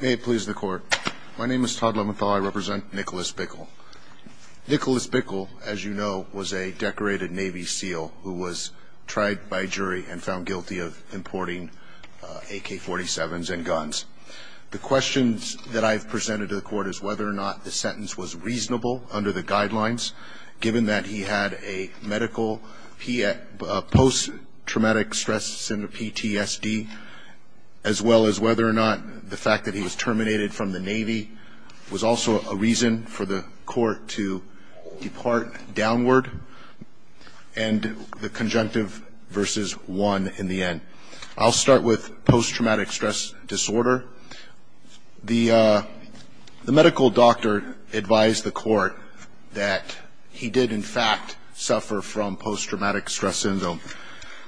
May it please the court. My name is Todd Leventhal. I represent Nicholas Bickle. Nicholas Bickle, as you know, was a decorated Navy SEAL who was tried by jury and found guilty of importing AK-47s and guns. The questions that I've presented to the court is whether or not the sentence was reasonable under the guidelines, given that he had a medical post-traumatic stress syndrome, PTSD, as well as whether or not the fact that he was terminated from the Navy was also a reason for the court to depart downward. And the conjunctive versus one in the end. I'll start with post-traumatic stress disorder. The medical doctor advised the court that he did in fact suffer from post-traumatic stress syndrome.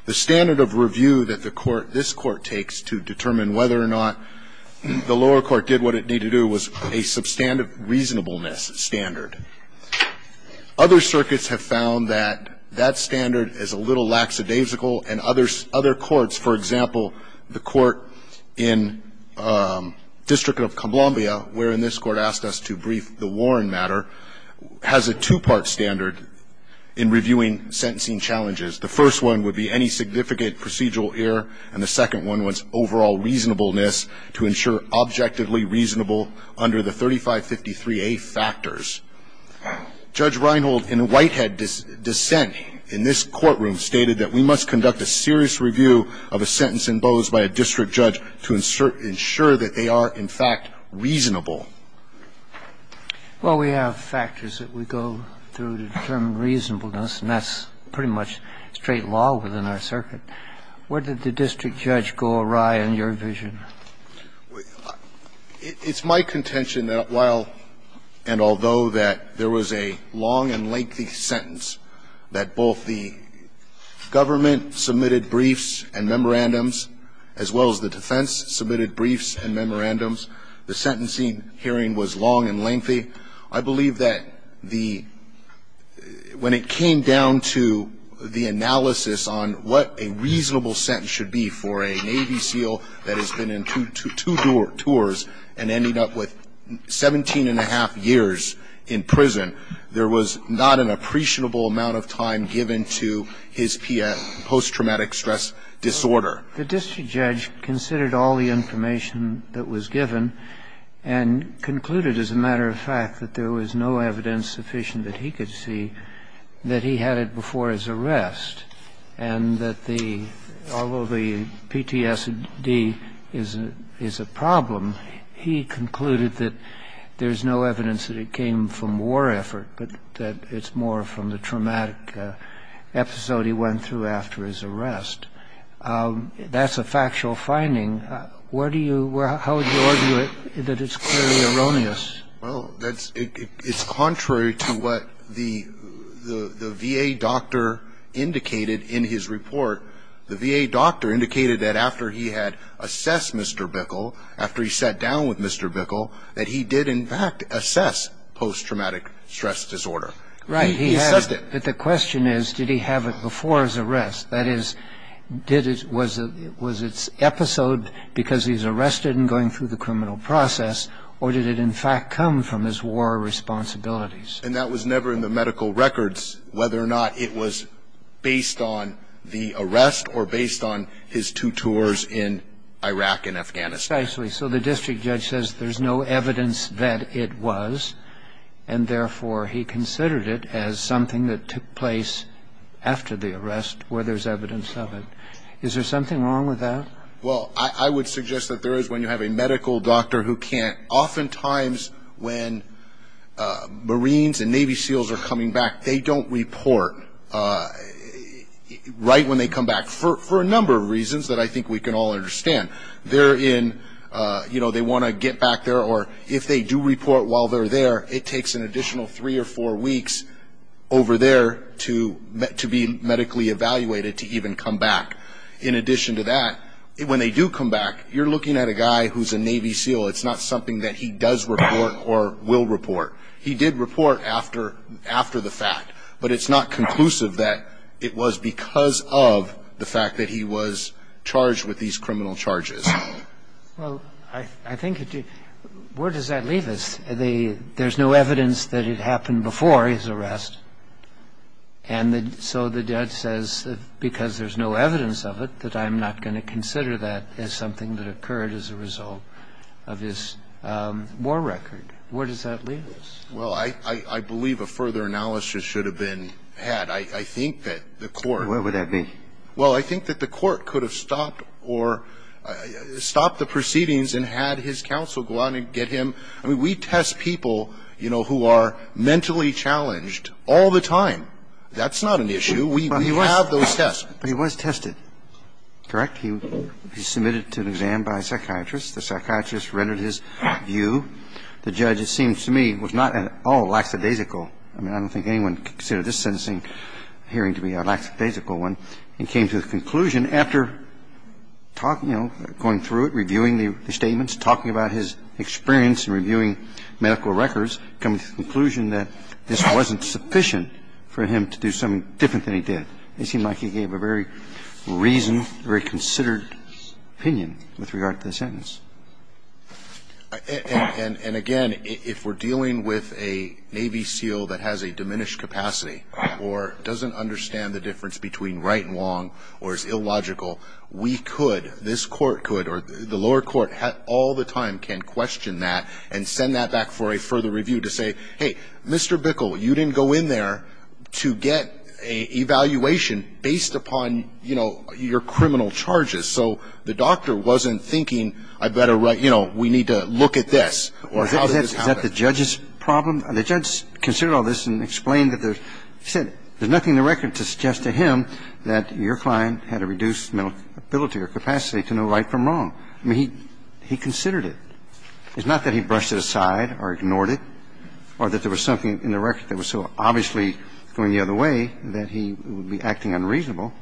The standard of review that the court, this Court, takes to determine whether or not the lower court did what it needed to do was a substantive reasonableness standard. Other circuits have found that that standard is a little lackadaisical, and other courts, for example, the court in District of Columbia, where in this Court asked us to brief the Warren matter, has a two-part standard in reviewing would be any significant procedural error, and the second one was overall reasonableness to ensure objectively reasonable under the 3553A factors. Judge Reinhold, in Whitehead dissent in this courtroom, stated that we must conduct a serious review of a sentence imposed by a district judge to ensure that they are, in fact, reasonable. Well, we have factors that we go through to determine reasonableness, and that's pretty much straight law within our circuit. Where did the district judge go awry on your vision? It's my contention that while and although that there was a long and lengthy sentence that both the government submitted briefs and memorandums, as well as the defense submitted briefs and memorandums, the sentencing hearing was long and lengthy, I believe that the – when it came down to the analysis on what a reasonable sentence should be for a Navy SEAL that has been in two tours and ended up with 17-1⁄2 years in prison, there was not an appreciable amount of time given to his post-traumatic stress disorder. The district judge considered all the information that was given and concluded, as a matter of fact, that there was no evidence sufficient that he could see that he had it before his arrest, and that the – although the PTSD is a problem, he concluded that there's no evidence that it came from war effort, but that it's more from the traumatic episode he went through after his arrest. That's a factual finding. Where do you – how would you argue that it's clearly erroneous? Well, that's – it's contrary to what the VA doctor indicated in his report. The VA doctor indicated that after he had assessed Mr. Bickel, after he sat down with Mr. Bickel, that he did, in fact, assess post-traumatic stress disorder. Right. He assessed it. But the question is, did he have it before his arrest? That is, did it – was it episode because he's arrested and going through the criminal process, or did it, in fact, come from his war responsibilities? And that was never in the medical records, whether or not it was based on the arrest or based on his two tours in Iraq and Afghanistan. Precisely. So the district judge says there's no evidence that it was, and therefore he considered it as something that took place after the arrest where there's evidence of it. Is there something wrong with that? Well, I would suggest that there is when you have a medical doctor who can't – oftentimes when Marines and Navy SEALs are coming back, they don't report right when they come back for a number of reasons that I think we can all understand. They're in – you know, they want to get back there, or if they do report while they're there, it takes an additional three or four weeks over there to be medically evaluated to even come back. In addition to that, when they do come back, you're looking at a guy who's a Navy SEAL. It's not something that he does report or will report. He did report after the fact, but it's not conclusive that it was because of the fact that he was charged with these criminal charges. Well, I think it – where does that leave us? There's no evidence that it happened before his arrest, and so the judge says because there's no evidence of it, that I'm not going to consider that as something that occurred as a result of his war record. Where does that leave us? Well, I believe a further analysis should have been had. I think that the court – Where would that be? Well, I think that the court could have stopped or – stopped the proceedings and had his counsel go out and get him. I mean, we test people, you know, who are mentally challenged all the time. That's not an issue. We have those tests. But he was tested, correct? He was submitted to an exam by a psychiatrist. The psychiatrist rendered his view. The judge, it seems to me, was not at all lackadaisical. I mean, I don't think anyone could consider this sentencing hearing to be a lackadaisical one. He came to the conclusion after talking, you know, going through it, reviewing the statements, talking about his experience in reviewing medical records, coming to the conclusion that this wasn't sufficient for him to do something different than he did. It seemed like he gave a very reasoned, very considered opinion with regard to the sentence. And again, if we're dealing with a Navy SEAL that has a diminished capacity or doesn't understand the difference between right and wrong or is illogical, we could, this Court could, or the lower court all the time can question that and send that back for a further review to say, hey, Mr. Bickle, you didn't go in there to get an evaluation based upon, you know, your criminal charges. So the doctor wasn't thinking, I better write, you know, we need to look at this or how did this happen? Is that the judge's problem? The judge considered all this and explained that there's, he said there's nothing in the record to suggest to him that your client had a reduced ability or capacity to know right from wrong. I mean, he considered it. It's not that he brushed it aside or ignored it or that there was something in the record that was so obviously going the other way that he would be acting unreasonable.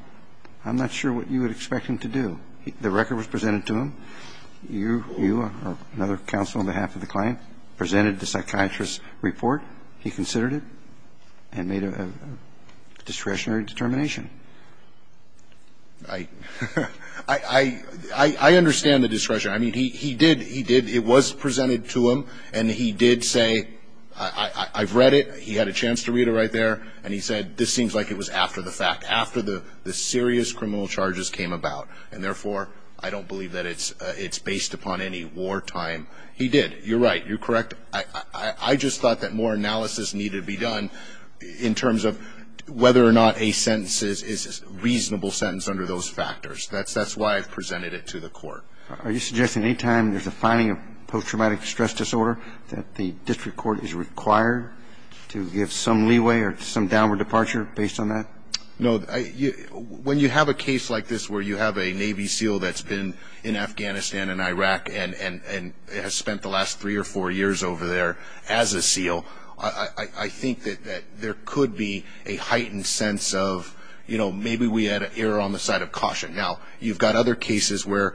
I'm not sure what you would expect him to do. The record was presented to him. You, another counsel on behalf of the client, presented the psychiatrist's report. He considered it and made a discretionary determination. I understand the discretion. I mean, he did, he did, it was presented to him and he did say, I've read it, he had a chance to read it right there, and he said, this seems like it was after the fact, after the serious criminal charges came about. And therefore, I don't believe that it's based upon any wartime. He did. You're right. You're correct. I just thought that more analysis needed to be done in terms of whether or not a sentence is a reasonable sentence under those factors. That's why I presented it to the court. Are you suggesting any time there's a finding of post-traumatic stress disorder that the district court is required to give some leeway or some downward departure based on that? No. When you have a case like this where you have a Navy SEAL that's been in Afghanistan and Iraq and has spent the last three or four years over there as a SEAL, I think that there could be a heightened sense of, you know, maybe we had an error on the side of caution. Now, you've got other cases where,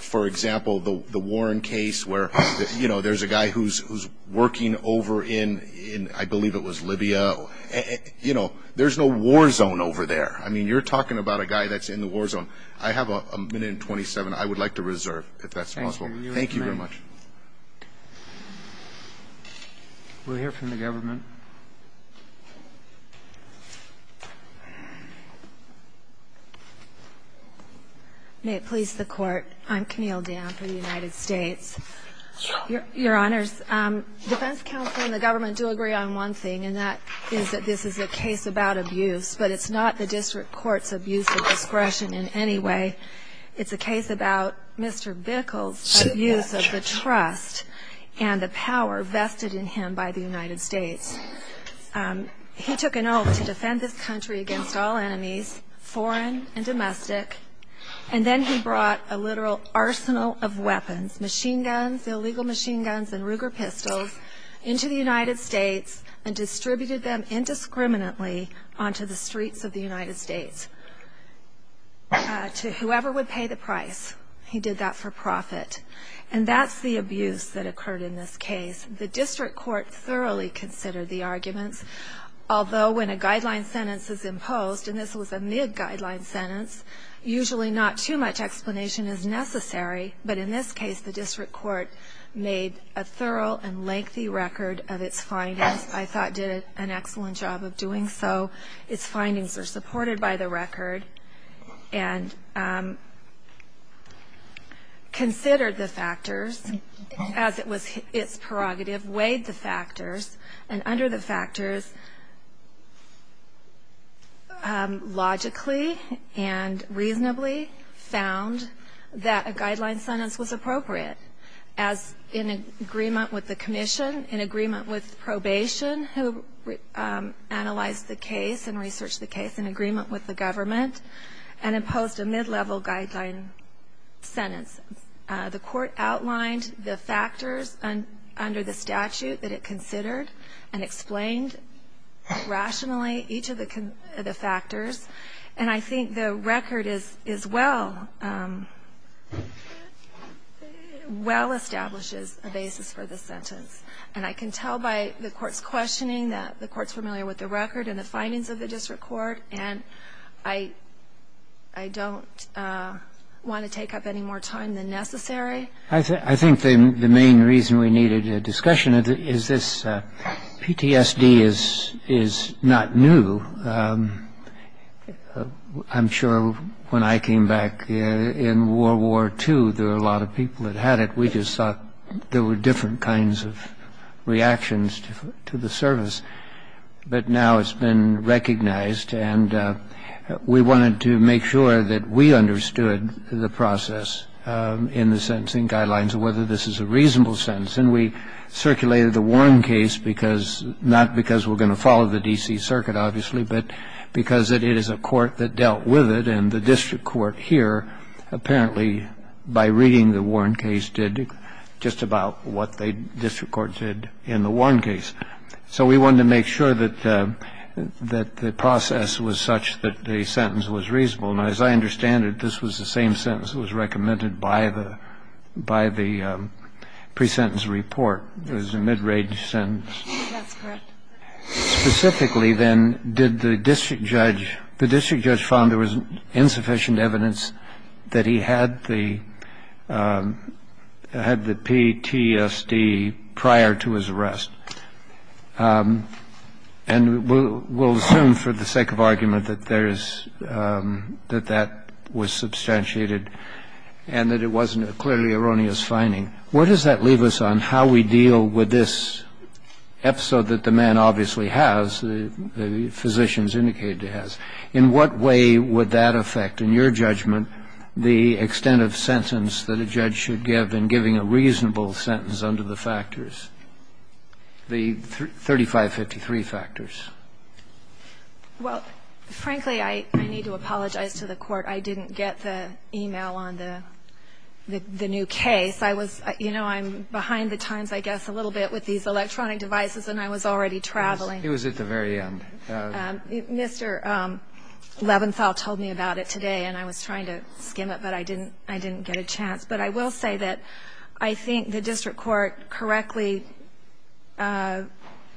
for example, the Warren case where, you know, there's a guy who's working over in, I believe it was Libya. No. You know, there's no war zone over there. I mean, you're talking about a guy that's in the war zone. I have a minute and 27. I would like to reserve, if that's possible. Thank you very much. We'll hear from the government. May it please the Court. I'm Camille Dan for the United States. Your Honors, defense counsel and the government do agree on one thing, and that is that this is a case about abuse, but it's not the district court's abuse of discretion in any way. It's a case about Mr. Bickel's abuse of the trust and the power vested in him by the United States. He took an oath to defend this country against all enemies, foreign and domestic, and then he brought a literal arsenal of weapons, machine guns, illegal machine guns and Ruger pistols, into the United States and distributed them indiscriminately onto the streets of the United States to whoever would pay the price. He did that for profit. And that's the abuse that occurred in this case. The district court thoroughly considered the arguments, although when a guideline sentence is imposed, and this was a mid-guideline sentence, usually not too much explanation is necessary. But in this case, the district court made a thorough and lengthy record of its findings, I thought did an excellent job of doing so. Its findings are supported by the record and considered the factors as it was its prerogative, weighed the factors, and under the factors, logically and reasonably found that a guideline sentence was appropriate as in agreement with the commission, in agreement with probation who analyzed the case and researched the case, in agreement with the government, and imposed a mid-level guideline sentence. The court outlined the factors under the statute that it considered and explained rationally each of the factors, and I think the record is well established as a basis for the sentence. And I can tell by the court's questioning that the court's familiar with the record and the findings of the district court, and I don't want to take up any more time than necessary. I think the main reason we needed a discussion is this PTSD is not new. I'm sure when I came back in World War II, there were a lot of people that had it. We just thought there were different kinds of reactions to the service. But now it's been recognized, and we wanted to make sure that we understood the process in the sentencing guidelines, whether this is a reasonable sentence. And we circulated the Warren case, not because we're going to follow the D.C. Circuit, obviously, but because it is a court that dealt with it, and the district court here, apparently, by reading the Warren case, did just about what the district court did in the Warren case. So we wanted to make sure that the process was such that the sentence was reasonable. Now, as I understand it, this was the same sentence that was recommended by the pre-sentence report. It was a mid-range sentence. That's correct. Specifically, then, did the district judge – the district judge found there was insufficient evidence that he had the PTSD prior to his arrest. And we'll assume for the sake of argument that there is – that that was substantiated and that it wasn't a clearly erroneous finding. What does that leave us on how we deal with this episode that the man obviously has, the physicians indicated he has? In what way would that affect, in your judgment, the extent of sentence that a judge should give in giving a reasonable sentence under the factors, the 3553 factors? Well, frankly, I need to apologize to the Court. I didn't get the e-mail on the new case. I was – you know, I'm behind the times, I guess, a little bit with these electronic devices, and I was already traveling. He was at the very end. Mr. Leventhal told me about it today, and I was trying to skim it, but I didn't get a chance. But I will say that I think the district court correctly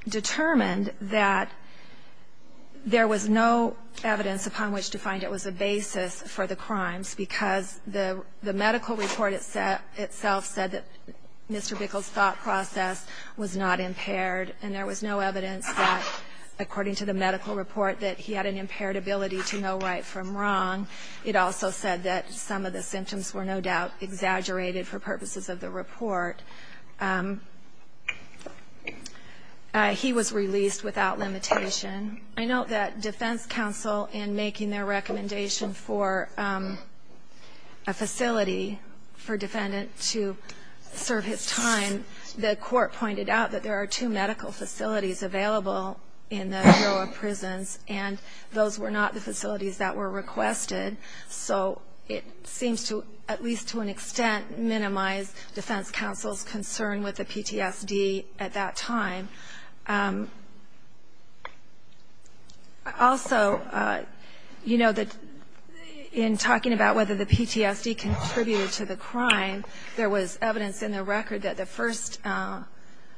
determined that there was no evidence upon which to find it was a basis for the crimes because the medical report itself said that Mr. Bickel's thought process was not impaired, and there was no evidence that, according to the medical report, that he had an impaired ability to know right from wrong. It also said that some of the symptoms were no doubt exaggerated for purposes of the report. He was released without limitation. I note that Defense Counsel, in making their recommendation for a facility for a defendant to serve his time, the Court pointed out that there are two medical facilities available in the Bureau of Prisons, and those were not the facilities that were requested. So it seems to, at least to an extent, minimize Defense Counsel's concern with the PTSD at that time. Also, you know, in talking about whether the PTSD contributed to the crime, there was evidence in the record that the first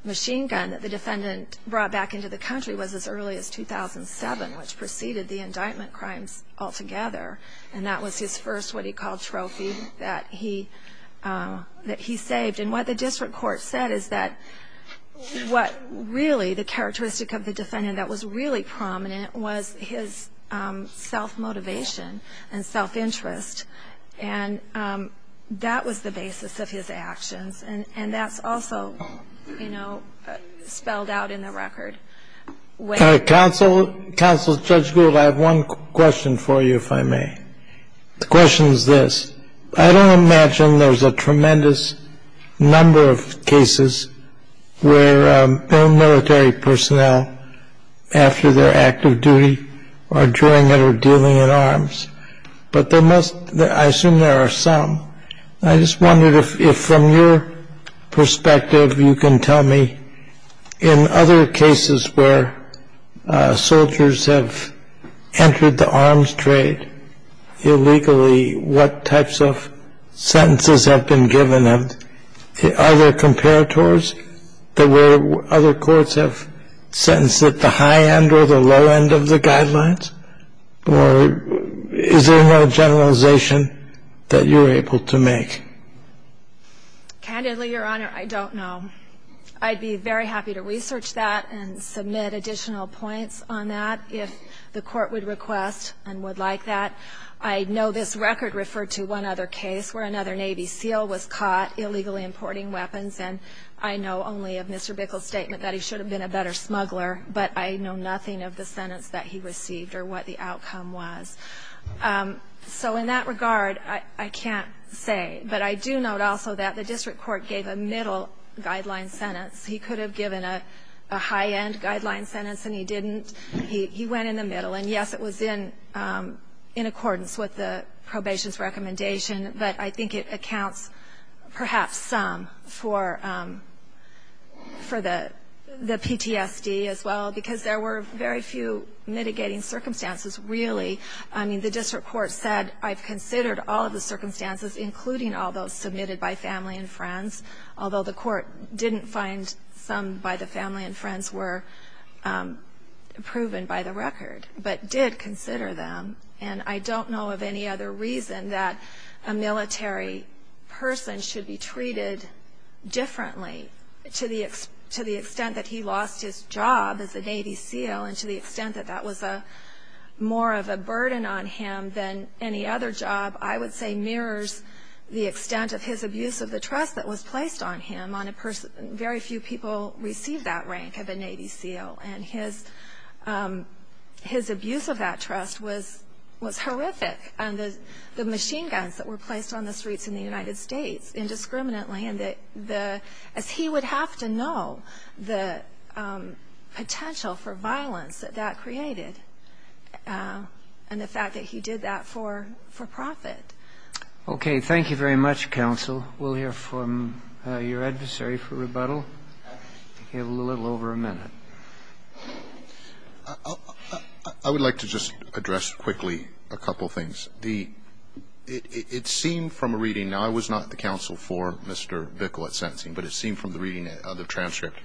machine gun that the defendant brought back into the country was as early as 2007, which preceded the indictment crimes altogether. And that was his first what he called trophy that he saved. And what the district court said is that what really the characteristic of the defendant that was really prominent was his self-motivation and self-interest, and that was the basis of his actions. And that's also, you know, spelled out in the record. Counsel, Judge Gould, I have one question for you, if I may. The question is this. I don't imagine there's a tremendous number of cases where military personnel after their active duty or during it are dealing in arms. But there must be, I assume there are some. I just wondered if from your perspective you can tell me in other cases where soldiers have entered the arms trade illegally, what types of sentences have been given? Are there comparators that where other courts have sentenced at the high end or the low end of the guidelines? Or is there another generalization that you're able to make? Candidly, Your Honor, I don't know. I'd be very happy to research that and submit additional points on that if the court would request and would like that. I know this record referred to one other case where another Navy SEAL was caught illegally importing weapons. And I know only of Mr. Bickle's statement that he should have been a better smuggler, but I know nothing of the sentence that he received or what the outcome was. So in that regard, I can't say. But I do note also that the district court gave a middle guideline sentence. He could have given a high-end guideline sentence and he didn't. He went in the middle. And yes, it was in accordance with the probation's recommendation, but I think it accounts perhaps some for the PTSD as well because there were very few mitigating circumstances really. I mean, the district court said, I've considered all of the circumstances, including all those submitted by family and friends, although the court didn't find some by the family and friends were proven by the record, but did consider them. And I don't know of any other reason that a military person should be treated differently to the extent that he lost his job as a Navy SEAL and to the extent that that was more of a burden on him than any other job, I would say mirrors the extent of his abuse of the trust that was placed on him. Very few people receive that rank of a Navy SEAL. And his abuse of that trust was horrific. And the machine guns that were placed on the streets in the United States indiscriminately as he would have to know the potential for violence that that created and the fact that he did that for profit. Okay. Thank you very much, counsel. We'll hear from your adversary for rebuttal in a little over a minute. I would like to just address quickly a couple of things. It seemed from a reading, now I was not the counsel for Mr. Bickle at sentencing, but it seemed from the reading of the transcript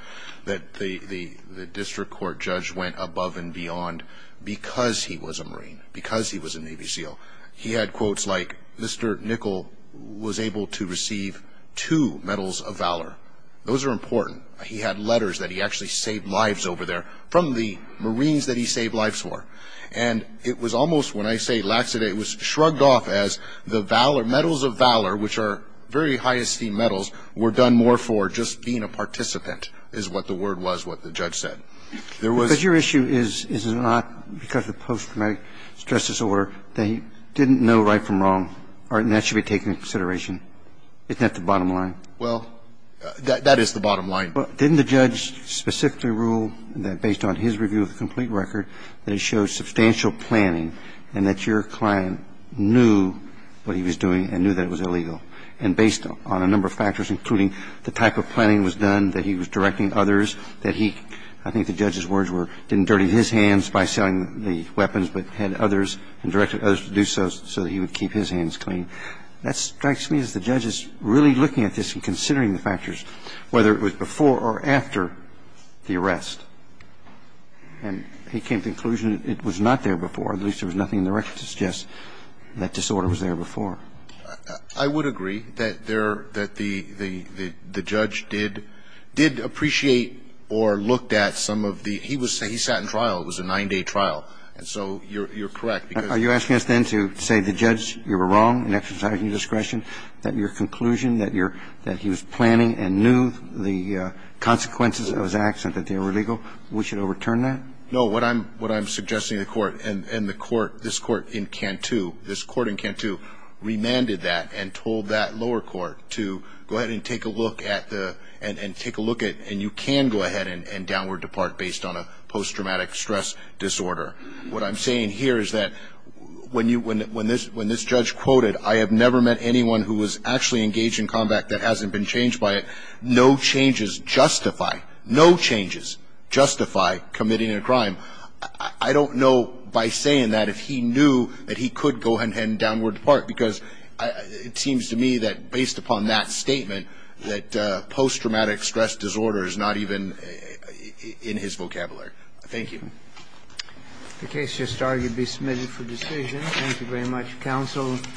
that the district court judge went above and beyond because he was a Marine, because he was a Navy SEAL. He had quotes like, Mr. Nickel was able to receive two Medals of Valor. Those are important. He had letters that he actually saved lives over there from the Marines that he saved lives for. And it was almost, when I say laxity, it was shrugged off as the Medals of Valor, which are very high esteem medals, were done more for just being a participant, is what the word was, what the judge said. Because your issue is not because of the post-traumatic stress disorder, that he didn't know right from wrong, and that should be taken into consideration. Isn't that the bottom line? Well, that is the bottom line. Didn't the judge specifically rule that based on his review of the complete record that it showed substantial planning and that your client knew what he was doing and knew that it was illegal, and based on a number of factors, including the type of planning that was done, that he was directing others, that he, I think the judge's words were, didn't dirty his hands by selling the weapons but had others and directed others to do so so that he would keep his hands clean. That strikes me as the judge is really looking at this and considering the factors, whether it was before or after the arrest. And he came to the conclusion it was not there before, at least there was nothing in the record to suggest that disorder was there before. I would agree that there, that the judge did appreciate or looked at some of the, he was, he sat in trial. It was a nine-day trial. And so you're correct. Are you asking us then to say the judge, you were wrong in exercising discretion, that your conclusion, that he was planning and knew the consequences of his actions, that they were illegal, we should overturn that? No, what I'm suggesting to the court, and the court, this court in Cantu, this court in Cantu remanded that and told that lower court to go ahead and take a look at the, and take a look at, and you can go ahead and downward depart based on a post-traumatic stress disorder. What I'm saying here is that when this judge quoted, I have never met anyone who was actually engaged in combat that hasn't been changed by it. No changes justify, no changes justify committing a crime. I don't know by saying that if he knew that he could go ahead and downward depart because it seems to me that based upon that statement, that post-traumatic stress disorder is not even in his vocabulary. Thank you. The case just argued to be submitted for decision. Thank you very much, counsel.